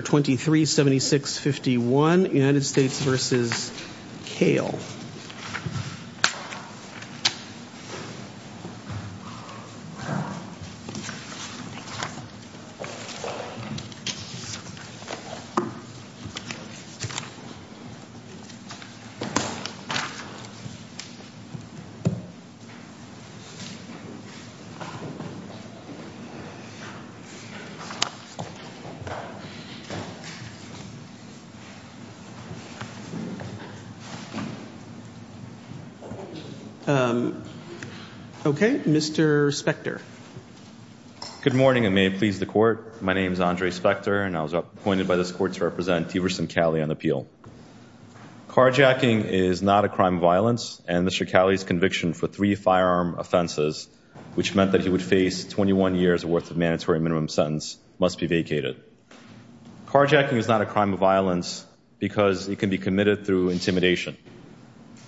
237651, United States v. Kale. Okay, Mr. Spector. Good morning and may it please the court. My name is Andre Spector and I was appointed by this court to represent Teverson Kale on the appeal. Carjacking is not a crime of violence and Mr. Kale's conviction for three firearm offenses, which meant that he would face 21 years worth of mandatory minimum sentence, must be vacated. Carjacking is not a crime of violence because it can be committed through intimidation,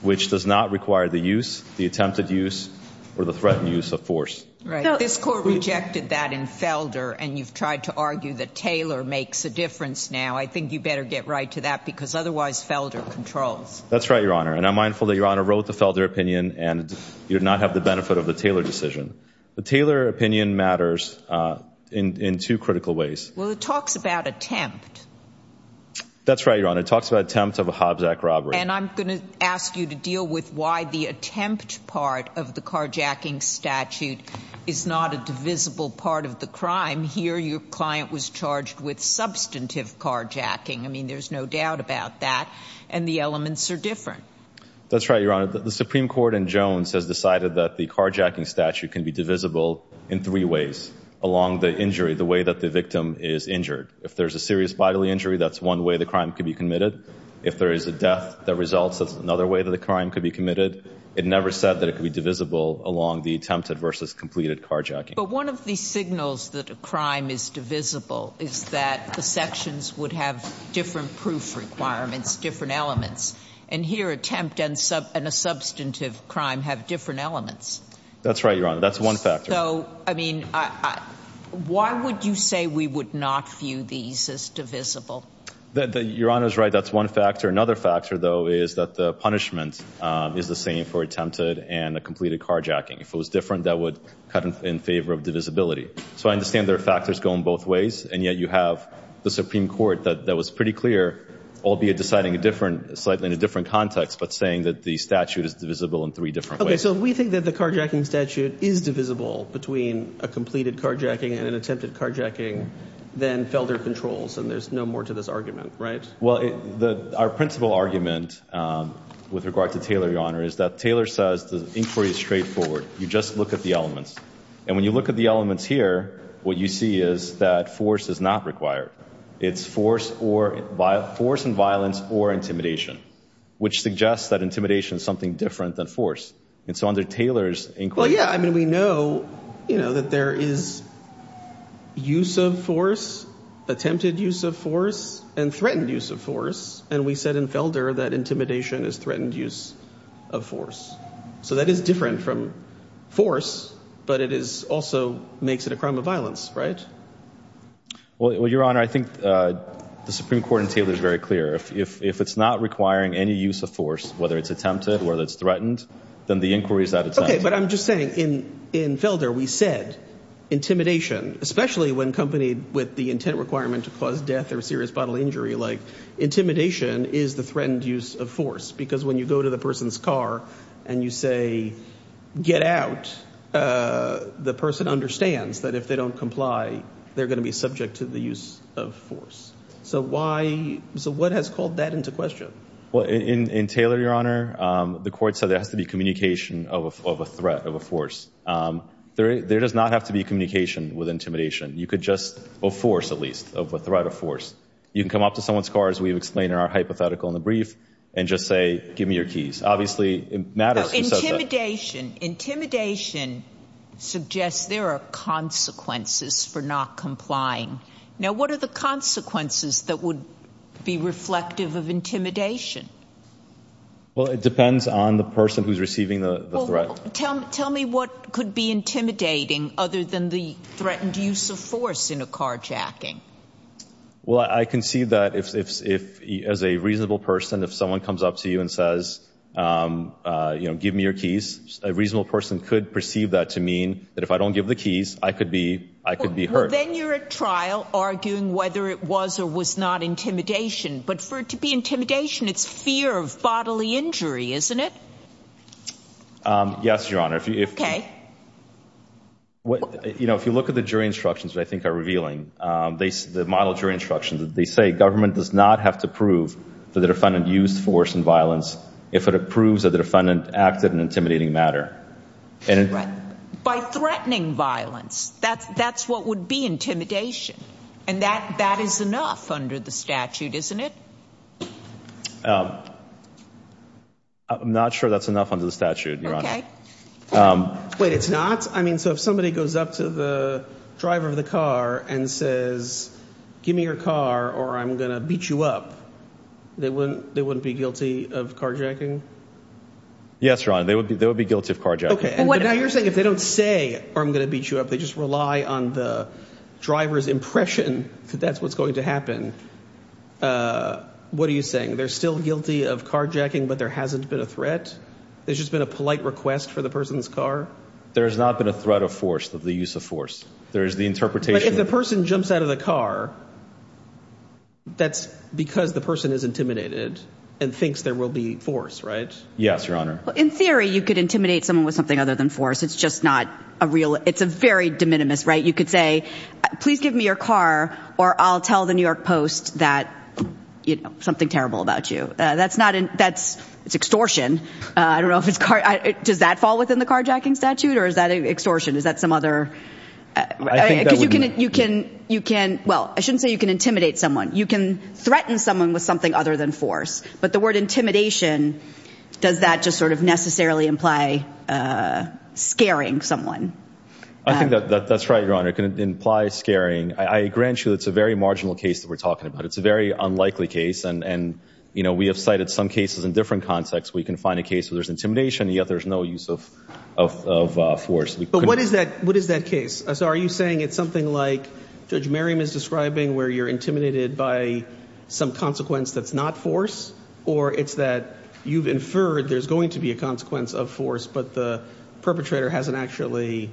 which does not require the use, the attempted use, or the threatened use of force. This court rejected that in Felder and you've tried to argue that Taylor makes a difference now. I think you better get right to that because otherwise Felder controls. That's right, Your Honor, and I'm mindful that Your Honor wrote the Felder opinion and you did not have the benefit of the Taylor decision. The Taylor opinion matters in two critical ways. Well, it talks about attempt. That's right, Your Honor. It talks about attempt of a Hobbs Act robbery. And I'm going to ask you to deal with why the attempt part of the carjacking statute is not a divisible part of the crime. Here, your client was charged with substantive carjacking. I mean, there's no doubt about that and the elements are different. That's right, Your can be divisible in three ways along the injury, the way that the victim is injured. If there's a serious bodily injury, that's one way the crime could be committed. If there is a death that results, that's another way that the crime could be committed. It never said that it could be divisible along the attempted versus completed carjacking. But one of the signals that a crime is divisible is that the sections would have different proof requirements, different elements. And here, attempt and a substantive crime have different elements. That's right, Your Honor. That's one factor. So, I mean, why would you say we would not view these as divisible? Your Honor is right. That's one factor. Another factor, though, is that the punishment is the same for attempted and completed carjacking. If it was different, that would cut in favor of divisibility. So I understand there are factors going both ways, and yet you have the Supreme Court that was pretty clear, albeit deciding a different, slightly in a different context, but saying that the statute is divisible in three different ways. Okay, so we think that the carjacking statute is divisible between a completed carjacking and an attempted carjacking than Felder controls, and there's no more to this argument, right? Well, our principal argument with regard to Taylor, Your Honor, is that Taylor says the inquiry is straightforward. You just look at the elements. And when you look at the elements here, what you see is that force is not required. It's force and violence or intimidation, which suggests that intimidation is something different than force. And so under Taylor's inquiry— Well, yeah, I mean, we know, you know, that there is use of force, attempted use of force, and threatened use of force. And we said in Felder that intimidation is threatened use of force. So that is different from force, but it is also makes it a crime of violence, right? Well, Your Honor, I think the Supreme Court in Taylor is very clear. If it's not requiring any use of force, whether it's attempted, whether it's threatened, then the inquiry is out of time. Okay, but I'm just saying, in Felder, we said intimidation, especially when accompanied with the intent requirement to cause death or serious bodily injury, like, intimidation is the threatened use of force. Because when you go to the person's car and you say, get out, the person understands that if they don't comply, they're going to be subject to the use of force. So what has called that into question? Well, in Taylor, Your Honor, the court said there has to be communication of a threat, of a force. There does not have to be communication with intimidation. You could just—a force, at least, of a threat of force. You can come up to someone's car, as we've explained in our hypothetical in the brief, and just say, give me your keys. Obviously, it matters who says that. Intimidation. Intimidation suggests there are consequences for not complying. Now, what are the consequences that would be reflective of intimidation? Well, it depends on the person who's receiving the threat. Tell me what could be intimidating other than the threatened use of force in a carjacking. Well, I can see that if, as a reasonable person, if someone comes up to you and says, give me your keys, a reasonable person could perceive that to mean that if I don't give the keys, I could be hurt. Well, then you're at trial arguing whether it was or was not intimidation. But for it to be intimidation, it's fear of bodily injury, isn't it? Yes, Your Honor. Okay. You know, if you look at the jury instructions that I think are revealing, the model jury instructions, they say government does not have to prove that the defendant used force in violence if it approves that the defendant acted in an intimidating manner. By threatening violence. That's what would be intimidation. And that is enough under the statute, isn't it? I'm not sure that's enough under the statute, Your Honor. Wait, it's not? I mean, so if somebody goes up to the driver of the car and says, give me your car or I'm going to beat you up, they wouldn't be guilty of carjacking? Yes, Your Honor, they would be guilty of carjacking. Okay, but now you're saying if they don't say, or I'm going to beat you up, they just rely on the driver's impression that that's what's going to happen. What are you saying? They're still guilty of carjacking, but there hasn't been a threat? There's just been a polite request for the person's car? There has not been a threat of force, of the use of force. There is the interpretation But if the person jumps out of the car, that's because the person is intimidated and thinks there will be force, right? Yes, Your Honor. In theory, you could intimidate someone with something other than force. It's just not a real, it's a very de minimis, right? You could say, please give me your car or I'll tell the New York Post that, you know, something terrible about you. That's not an, that's, it's extortion. I don't know if it's car, does that fall within the carjacking statute or is that extortion? Is that some other? I think that would be Because you can, you can, you can, well, I shouldn't say you can intimidate someone. You can threaten someone with something other than force. But the word intimidation, does that just sort of necessarily imply scaring someone? I think that that's right, Your Honor. It can imply scaring. I grant you it's a very marginal case that we're talking about. It's a very unlikely case. And, and, you know, we have cited some cases in different contexts where you can find a case where there's intimidation and yet there's no use of, of, of force. But what is that, what is that case? So are you saying it's something like Judge Merriam is describing where you're intimidated by some consequence that's not force? Or it's that you've inferred there's going to be a consequence of force, but the perpetrator hasn't actually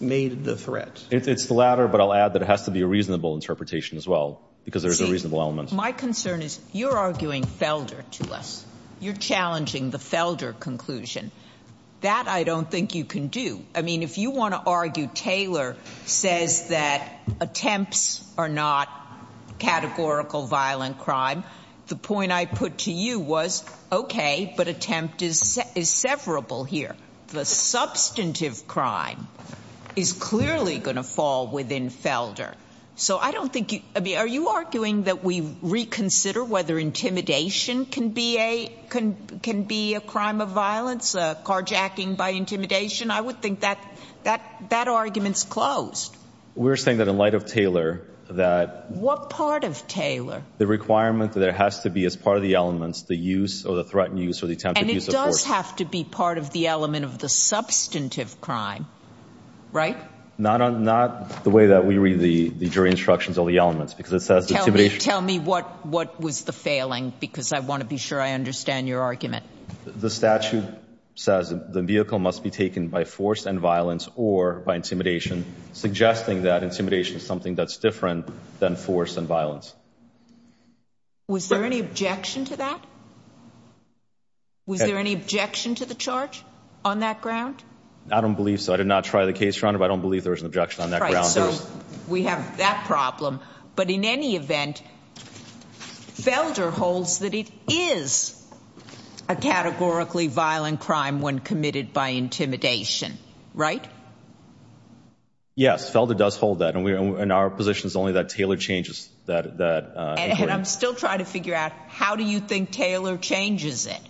made the threat. It's the latter, but I'll add that it has to be a reasonable interpretation as well because there's a reasonable element. See, my concern is you're arguing Felder to us. You're challenging the Felder conclusion. That I don't think you can do. I mean, if you want to argue Taylor says that attempts are not categorical violent crime, the point I put to you was, okay, but attempt is, is severable here. The substantive crime is clearly going to fall within Felder. So I don't think you, I mean, are you arguing that we reconsider whether intimidation can be a, can, can be a crime of violence, a carjacking by intimidation? I would think that, that, that argument's closed. We're saying that in light of Taylor, that. What part of Taylor? The requirement that there has to be as part of the elements, the use or the threatened use or the attempted use of force. And it does have to be part of the element of the substantive crime, right? Not on, not the way that we read the jury instructions or the elements because it says intimidation. Tell me, tell me what, what was the failing because I want to be sure I understand your The statute says the vehicle must be taken by force and violence or by intimidation suggesting that intimidation is something that's different than force and violence. Was there any objection to that? Was there any objection to the charge on that ground? I don't believe so. I did not try the case round, but I don't believe there was an objection on that ground. We have that problem, but in any event, Felder holds that it is a categorically violent crime when committed by intimidation, right? Yes. Felder does hold that. And we're in our positions only that Taylor changes that. And I'm still trying to figure out how do you think Taylor changes it?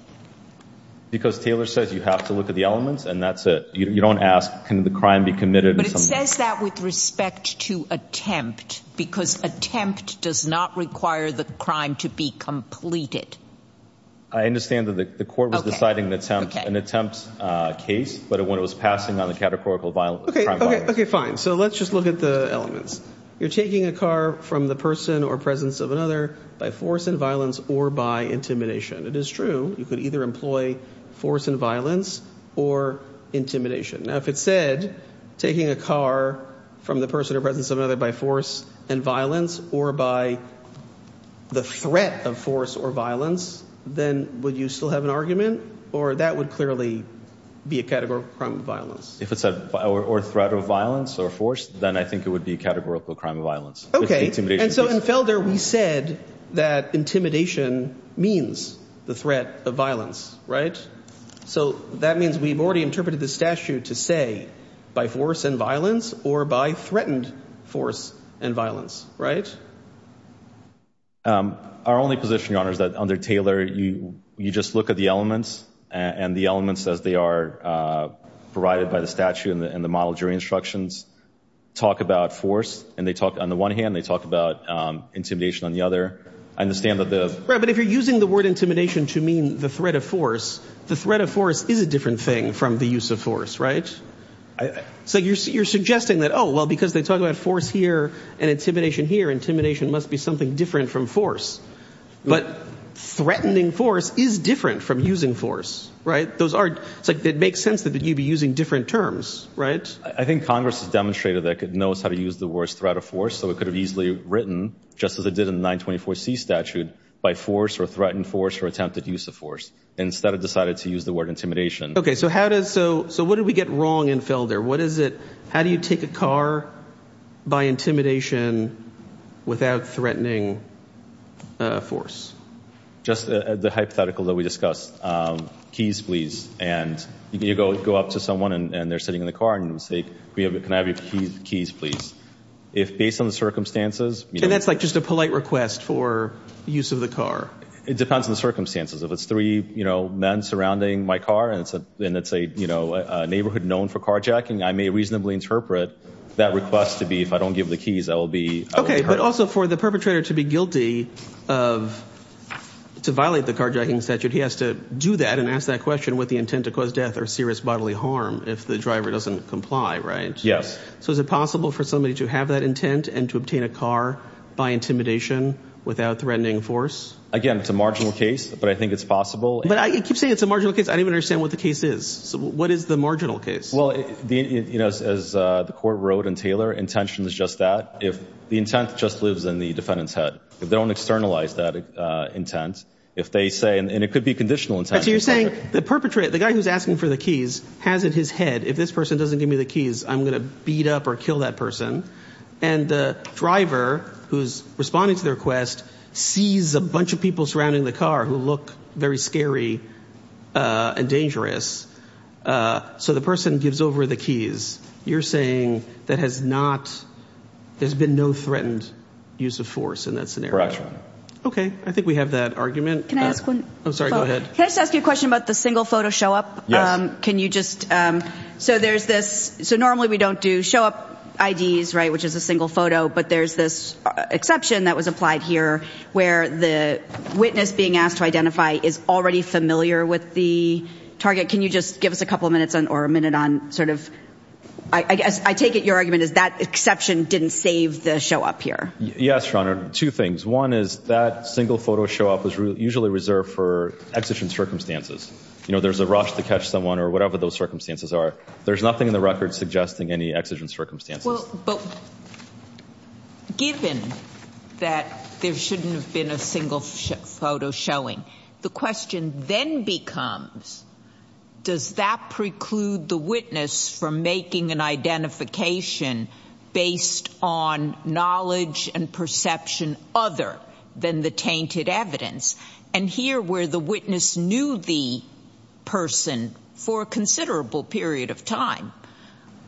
Because Taylor says you have to look at the elements and that's it. You don't ask, can the crime be committed? But it says that with respect to attempt, because attempt does not require the crime to be completed. I understand that the court was deciding an attempt case, but when it was passing on the categorical violence. Okay, fine. So let's just look at the elements. You're taking a car from the person or presence of another by force and violence or by intimidation. It is true. You could either employ force and violence or intimidation. Now, if it said taking a car from the person or presence of another by force and violence or by the threat of force or violence, then would you still have an argument or that would clearly be a categorical crime of violence? If it's a threat of violence or force, then I think it would be a categorical crime of Okay. And so in Felder, we said that intimidation means the threat of violence, right? So that means we've already interpreted the statute to say by force and violence or by threatened force and violence, right? Our only position, Your Honor, is that under Taylor, you just look at the elements and the elements as they are provided by the statute and the model jury instructions talk about force and they talk on the one hand, they talk about intimidation on the other. I understand that the... Right, but if you're using the word intimidation to mean the threat of force, the threat of force is a different thing from the use of force, right? So you're suggesting that, oh, well, because they talk about force here and intimidation here, intimidation must be something different from force. But threatening force is different from using force, right? It makes sense that you'd be using different terms, right? I think Congress has demonstrated that it knows how to use the word threat of force, so it could have easily written, just as it did in the 924C statute, by force or threatened force or attempted use of force. Instead, it decided to use the word intimidation. Okay, so what did we get wrong in Felder? How do you take a car by intimidation without threatening force? Just the hypothetical that we discussed. Keys, please. And you go up to someone and they're sitting in the car and say, can I have your keys, please? If, based on the circumstances... And that's like just a polite request for use of the car. It depends on the circumstances. If it's three men surrounding my car and it's a neighborhood known for carjacking, I may reasonably interpret that request to be, if I don't give the keys, that will be... Okay, but also for the perpetrator to be guilty of, to violate the carjacking statute, he has to do that and ask that question with the intent to cause death or serious bodily harm if the driver doesn't comply, right? So is it possible for somebody to have that intent and to obtain a car by intimidation without threatening force? Again, it's a marginal case, but I think it's possible. But I keep saying it's a marginal case. I don't even understand what the case is. So what is the marginal case? Well, as the court wrote in Taylor, intention is just that. If the intent just lives in the defendant's head. If they don't externalize that intent, if they say, and it could be conditional intent. So you're saying the perpetrator, the guy who's asking for the keys has in his head, if this person doesn't give me the keys, I'm going to beat up or kill that person. And the driver who's responding to the request sees a bunch of people surrounding the car who look very scary and dangerous. So the person gives over the keys. You're saying that has not, there's been no threatened use of force in that scenario? Correct. Okay. I think we have that argument. Can I ask one? I'm sorry, go ahead. Can I just ask you a question about the single photo show up? Can you just, so there's this, so normally we don't do show up IDs, right? Which is a single photo, but there's this exception that was applied here where the witness being asked to identify is already familiar with the target. Can you just give us a couple of minutes or a minute on sort of, I guess I take it your argument is that exception didn't save the show up here. Yes, Your Honor. Two things. One is that single photo show up is usually reserved for exigent circumstances. You know, there's a rush to catch someone or whatever those circumstances are. There's nothing in the record suggesting any exigent circumstances. Well, but given that there shouldn't have been a single photo showing, the question then becomes, does that preclude the witness from making an identification based on knowledge and perception other than the tainted evidence? And here where the witness knew the person for a considerable period of time,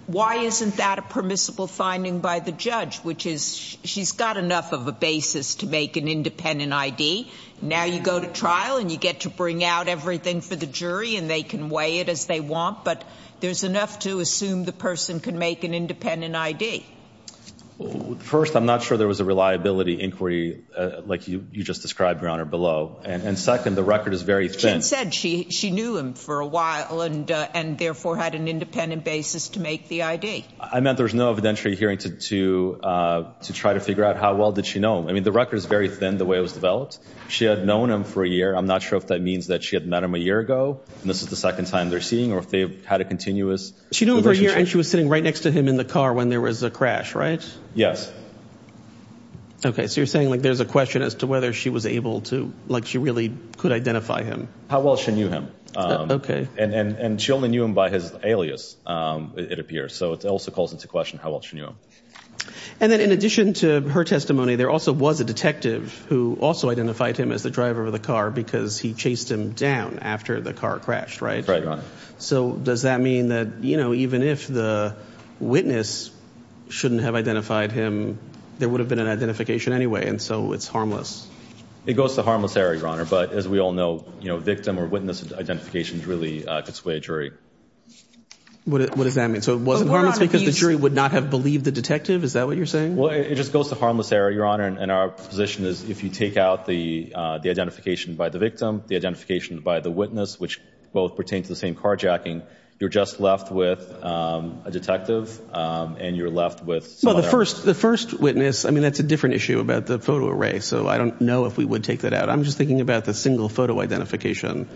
why isn't that a permissible finding by the judge? Which is she's got enough of a basis to make an independent ID. Now you go to trial and you get to bring out everything for the jury and they can weigh it as they want, but there's enough to assume the person can make an independent ID. First, I'm not sure there was a reliability inquiry like you just described, Your Honor, below. And second, the record is very thin. She said she knew him for a while and therefore had an independent basis to make the ID. I meant there's no evidentiary hearing to try to figure out how well did she know him. I mean, the record is very thin, the way it was developed. She had known him for a year. I'm not sure if that means that she had met him a year ago and this is the second time they're seeing or if they've had a continuous relationship. She knew him for a year and she was sitting right next to him in the car when there was a crash, right? Yes. Okay, so you're saying like there's a question as to whether she was able to, like she really could identify him. How well she knew him. And she only knew him by his alias, it appears. So it also calls into question how well she knew him. And then in addition to her testimony, there also was a detective who also identified him as the driver of the car because he chased him down after the car crashed, right? Right, Your Honor. So does that mean that, you know, even if the witness shouldn't have identified him, there would have been an identification anyway. And so it's harmless. It goes to the harmless area, Your Honor. But as we all know, you know, victim or witness identification really could sway a jury. What does that mean? So it wasn't harmless because the jury would not have believed the detective? Is that what you're saying? Well, it just goes to the harmless area, Your Honor. And our position is if you take out the identification by the victim, the identification by the witness, which both pertain to the same carjacking, you're just left with a detective and you're left with someone else. Well, the first witness, I mean, that's a different issue about the photo array. So I don't know if we would take that out. I'm just thinking about the single photo identification.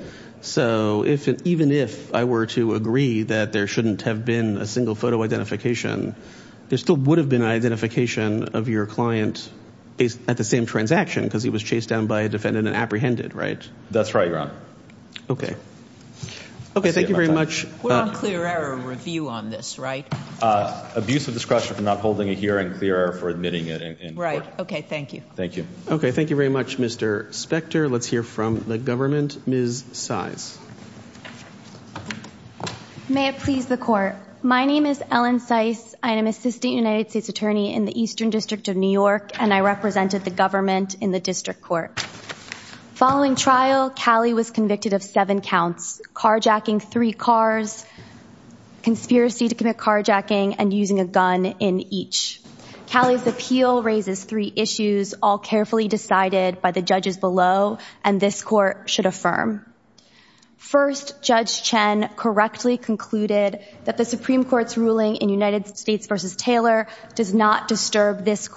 So even if I were to agree that there shouldn't have been a single photo identification, there still would have been identification of your client at the same transaction because he was chased down by a defendant and apprehended, right? That's right, Your Honor. Okay. Okay. Thank you very much. We're on clear error review on this, right? Abuse of discretion for not holding a hearing, clear error for admitting it. Right. Okay. Thank you. Thank you. Okay. Thank you very much, Mr. Spector. Let's hear from the government. Ms. Seiss. May it please the court. My name is Ellen Seiss. I am Assistant United States Attorney in the Eastern District of New York, and I represented the government in the district court. Following trial, Callie was convicted of seven counts, carjacking three cars, conspiracy to commit carjacking, and using a gun in each. Callie's appeal raises three issues, all carefully decided by the judges below, and this court should affirm. First, Judge Chen correctly concluded that the Supreme Court's ruling in United States v. Taylor does not disturb this concluded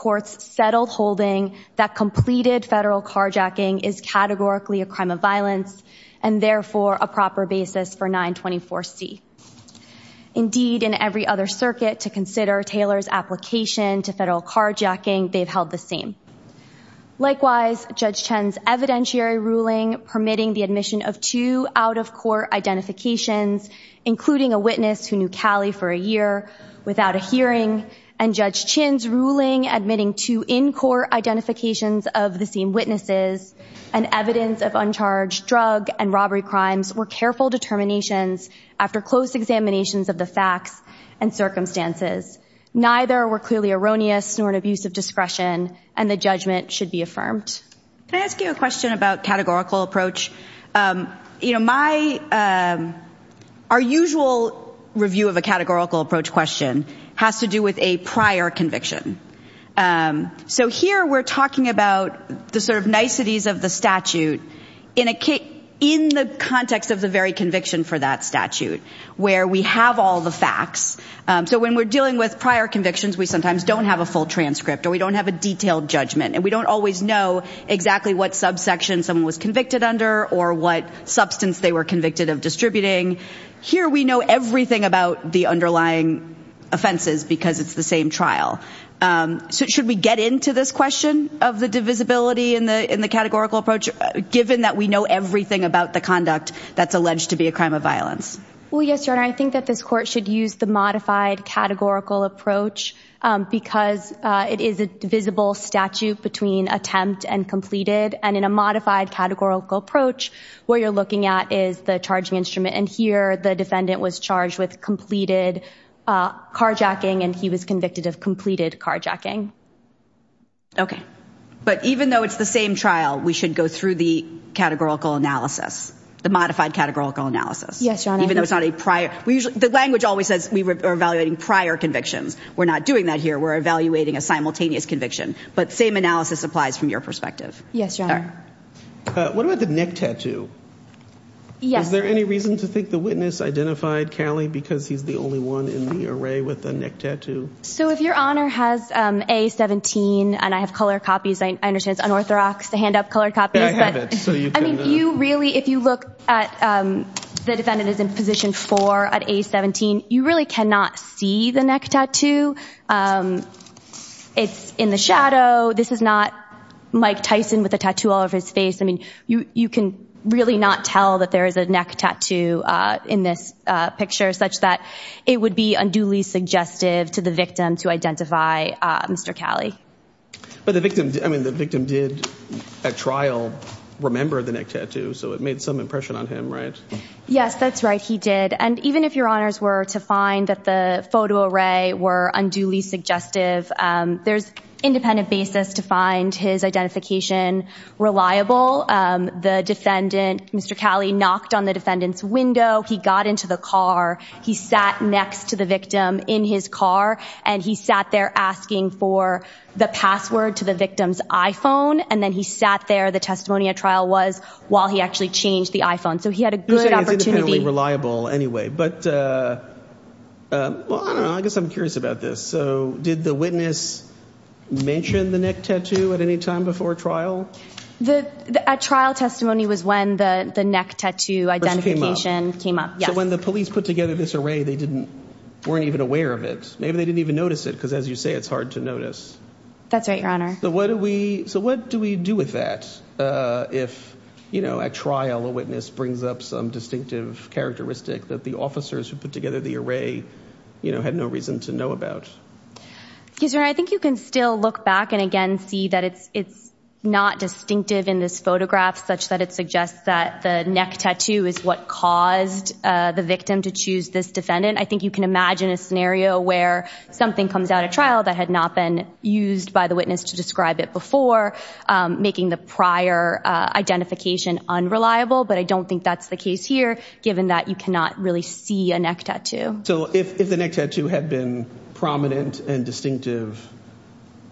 federal carjacking is categorically a crime of violence, and therefore, a proper basis for 924C. Indeed, in every other circuit to consider Taylor's application to federal carjacking, they've held the same. Likewise, Judge Chen's evidentiary ruling permitting the admission of two out-of-court identifications, including a witness who knew Callie for a year without a hearing, and Judge Chen's ruling admitting two in-court identifications of the same witnesses and evidence of uncharged drug and robbery crimes were careful determinations after close examinations of the facts and circumstances. Neither were clearly erroneous nor an abuse of discretion, and the judgment should be affirmed. Can I ask you a question about categorical approach? You know, my, our usual review of a categorical approach question has to do with a prior conviction. So here we're talking about the sort of niceties of the statute in the context of the very conviction for that statute, where we have all the facts. So when we're dealing with prior convictions, we sometimes don't have a full transcript, or we don't have a detailed judgment, and we don't always know exactly what subsection someone was convicted under or what substance they were convicted of distributing. Here we know everything about the underlying offenses because it's the same trial. So should we get into this question of the divisibility in the, in the categorical approach, given that we know everything about the conduct that's alleged to be a crime of Well, yes, Your Honor. I think that this court should use the modified categorical approach because it is a divisible statute between attempt and completed, and in a modified categorical approach, what you're looking at is the defendant was charged with completed carjacking, and he was convicted of completed carjacking. Okay. But even though it's the same trial, we should go through the categorical analysis, the modified categorical analysis. Yes, Your Honor. Even though it's not a prior, we usually, the language always says we were evaluating prior convictions. We're not doing that here. We're evaluating a simultaneous conviction. But same analysis applies from your perspective. Yes, Your Honor. What about the neck tattoo? Yes. Is there any reason to think the witness identified Callie because he's the only one in the array with a neck tattoo? So if Your Honor has A17, and I have colored copies, I understand it's unorthodox to hand up colored copies, but I mean, you really, if you look at the defendant is in position four at A17, you really cannot see the neck tattoo in this picture, such that it would be unduly suggestive to the victim to identify Mr. Callie. But the victim, I mean, the victim did at trial remember the neck tattoo, so it made some impression on him, right? Yes, that's right. He did. And even if Your Honors were to find that the photo array were unduly suggestive, there's independent basis to find his identification as reliable. The defendant, Mr. Callie, knocked on the defendant's window, he got into the car, he sat next to the victim in his car, and he sat there asking for the password to the victim's iPhone, and then he sat there, the testimony at trial was, while he actually changed the iPhone. So he had a good opportunity. He's independently reliable anyway. But, well, I don't know, I guess I'm curious about this. So did the witness mention the neck tattoo at any time before trial? At trial testimony was when the neck tattoo identification came up, yes. So when the police put together this array, they weren't even aware of it. Maybe they didn't even notice it, because as you say, it's hard to notice. That's right, Your Honor. So what do we do with that if at trial a witness brings up some distinctive characteristic that the officers who put together the array had no reason to know about? Your Honor, I think it's not distinctive in this photograph, such that it suggests that the neck tattoo is what caused the victim to choose this defendant. I think you can imagine a scenario where something comes out at trial that had not been used by the witness to describe it before, making the prior identification unreliable. But I don't think that's the case here, given that you cannot really see a neck tattoo. So if the neck tattoo had been prominent and distinctive,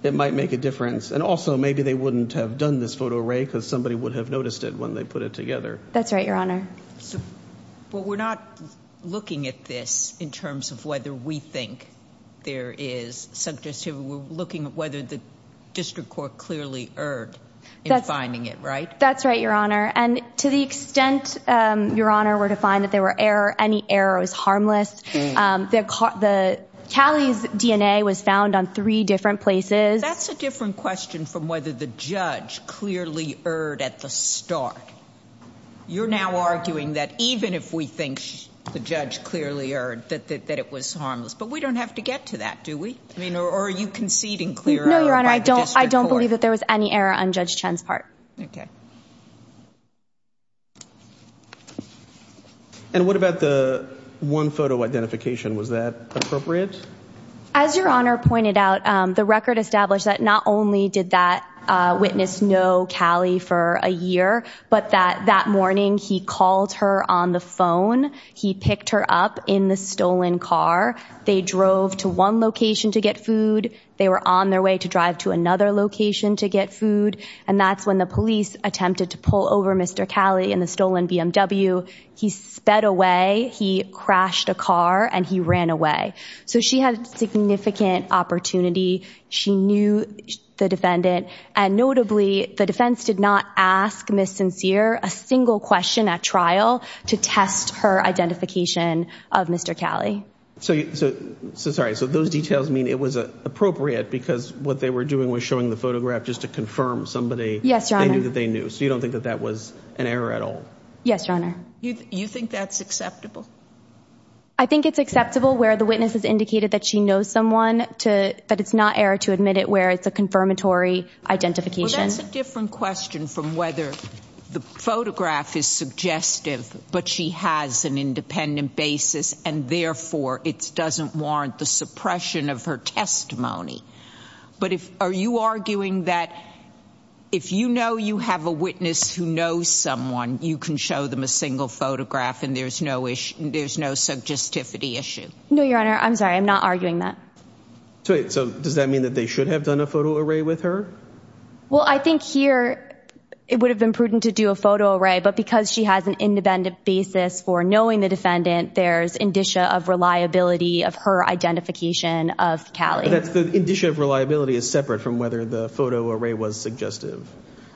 it might make a difference. And also, maybe they wouldn't have done this photo array, because somebody would have noticed it when they put it together. That's right, Your Honor. But we're not looking at this in terms of whether we think there is. We're looking at whether the district court clearly erred in finding it, right? That's right, Your Honor. And to the extent, Your Honor, we're to find that there were any errors, harmless. Callie's DNA was found on three different places. That's a different question from whether the judge clearly erred at the start. You're now arguing that even if we think the judge clearly erred, that it was harmless. But we don't have to get to that, do we? Or are you conceding clear error by the district court? No, Your Honor, I don't believe that there was any error on that part. Okay. And what about the one photo identification? Was that appropriate? As Your Honor pointed out, the record established that not only did that witness know Callie for a year, but that that morning he called her on the phone. He picked her up in the stolen car. They drove to one location to get food. They were on their way to drive to another location to get food. And that's when the police attempted to pull over Mr. Callie in the stolen BMW. He sped away. He crashed a car and he ran away. So she had significant opportunity. She knew the defendant. And notably, the defense did not ask Ms. Sincere a single question at trial to test her identification of Mr. Callie. So sorry. So those details mean it was appropriate because what they were doing was showing the photograph just to confirm somebody. Yes, Your Honor. They knew that they knew. So you don't think that that was an error at all? Yes, Your Honor. You think that's acceptable? I think it's acceptable where the witness has indicated that she knows someone to that it's not error to admit it, where it's a confirmatory identification. That's a different question from whether the photograph is suggestive, but she has an independent basis and therefore it doesn't warrant the suppression of her testimony. But if are you arguing that if you know you have a witness who knows someone, you can show them a single photograph and there's no issue. There's no suggestivity issue. No, Your Honor. I'm sorry. I'm not arguing that. So does that mean that they should have done a photo array with her? Well, I think here it would have been prudent to do a photo array. But because she has an independent basis and therefore it doesn't warrant the defendant, there's indicia of reliability of her identification of Callie. That's the indicia of reliability is separate from whether the photo array was suggestive.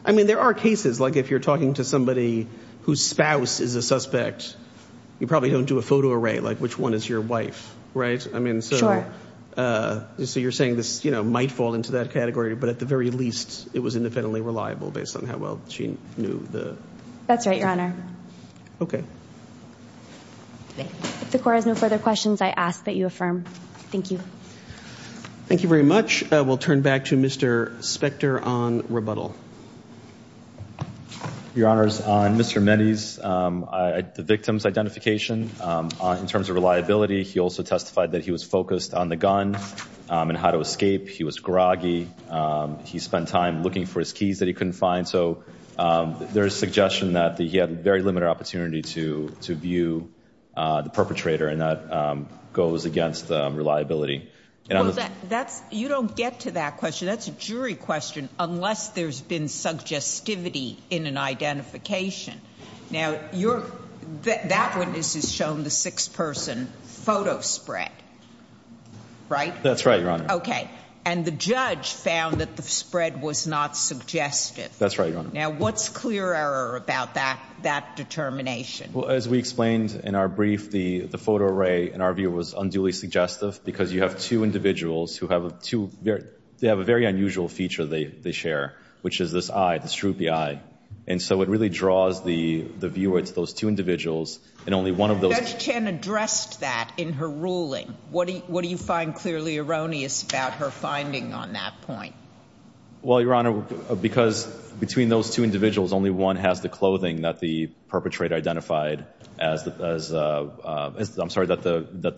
I mean, there are cases like if you're talking to somebody whose spouse is a suspect, you probably don't do a photo array like which one is your wife, right? I mean, so you're saying this, you know, might fall into that category, but at the very least it was independently reliable based on how well she knew the. That's right, Your Honor. Okay. If the court has no further questions, I ask that you affirm. Thank you. Thank you very much. We'll turn back to Mr. Spector on rebuttal. Your Honors, on Mr. Mehdi's, the victim's identification in terms of reliability, he also testified that he was focused on the gun and how to escape. He was groggy. He spent time looking for his keys that he couldn't find. So there's suggestion that he had very limited opportunity to view the perpetrator and that goes against reliability. That's, you don't get to that question. That's a jury question unless there's been suggestivity in an identification. Now you're, that witness has shown the six person photo spread, right? That's right, Your Honor. Okay. And the judge found that the spread was not suggestive. That's right, Your Honor. Now what's clear error about that determination? Well, as we explained in our brief, the photo array in our view was unduly suggestive because you have two individuals who have a very unusual feature they share, which is this eye, this droopy eye. And so it really draws the viewer to those two individuals and only one of those. Judge Chen addressed that in her ruling. What do you find clearly erroneous about her finding on that point? Well, Your Honor, because between those two individuals, only one has the clothing that the perpetrator identified as, I'm sorry, that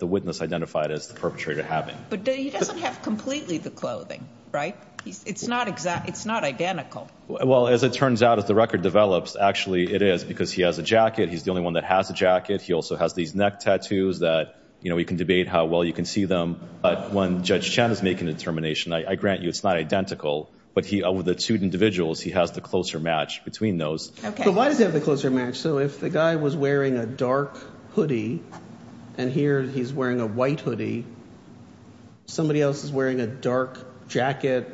the witness identified as the perpetrator having. But he doesn't have completely the clothing, right? It's not exact. It's not identical. Well, as it turns out, as the record develops, actually it is because he has a jacket. He's the only one that has a jacket. He also has these neck tattoos that you know, we can debate how well you can see them. But when Judge Chen is making a determination, I grant you it's not identical. But he over the two individuals, he has the closer match between those. Why does he have the closer match? So if the guy was wearing a dark hoodie and here he's wearing a white hoodie, somebody else is wearing a dark jacket,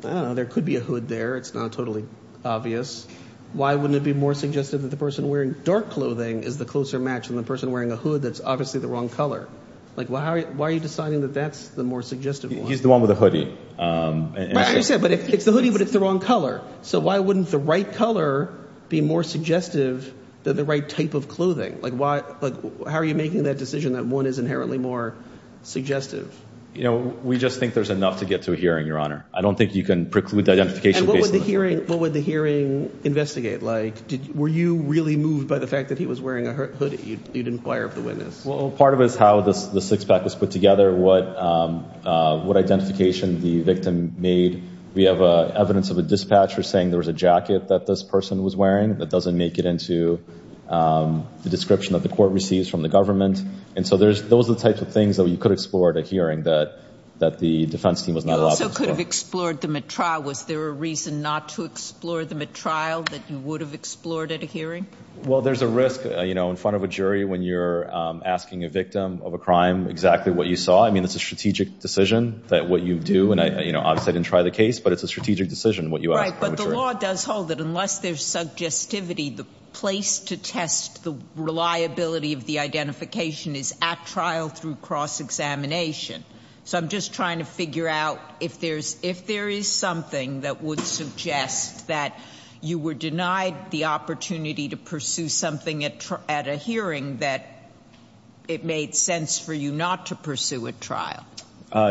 I don't know, there could be a hood there. It's not totally obvious. Why wouldn't it be more suggestive that the person wearing dark clothing is the closer match than the person wearing a hood that's obviously the wrong color? Like why are you deciding that that's the more suggestive one? He's the one with the hoodie. Right, but it's the hoodie, but it's the wrong color. So why wouldn't the right color be more suggestive? You know, we just think there's enough to get to a hearing, Your Honor. I don't think you can preclude the identification. And what would the hearing investigate? Like, were you really moved by the fact that he was wearing a hoodie? You'd inquire of the witness. Well, part of it is how the six-pack was put together, what identification the victim made. We have evidence of a dispatcher saying there was a jacket that this person was wearing that doesn't make it into the description that the court receives from the government. And so those are the types of things that we could explore at a hearing that the defense team was not allowed to explore. You also could have explored them at trial. Was there a reason not to explore them at trial that you would have explored at a hearing? Well, there's a risk, you know, in front of a jury when you're asking a victim of a crime exactly what you saw. I mean, it's a strategic decision that what you do, and obviously I didn't try the case, but it's a strategic decision what you ask. But the law does hold that unless there's suggestivity, the place to test the reliability of the identification is at trial through cross-examination. So I'm just trying to figure out if there is something that would suggest that you were denied the opportunity to pursue something at a hearing that it made sense for you not to pursue at trial.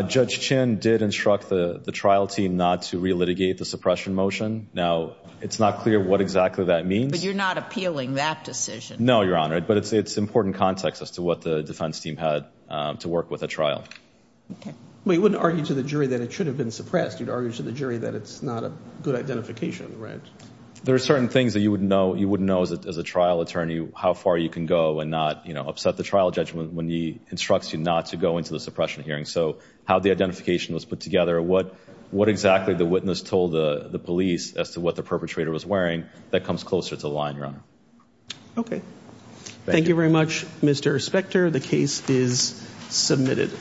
Judge Chin did instruct the trial team not to re-litigate the suppression motion. Now, it's not clear what exactly that means. But you're not appealing that decision. No, Your Honor. But it's important context as to what the defense team had to work with at trial. We wouldn't argue to the jury that it should have been suppressed. You'd argue to the jury that it's not a good identification, right? There are certain things that you wouldn't know as a trial attorney how far you can go and not upset the trial judge when he instructs you not to go into the suppression hearing. So how the identification was put together, what exactly the witness told the police as to what the perpetrator was wearing, that comes closer to the line, Your Honor. Thank you very much, Mr. Spector. The case is submitted.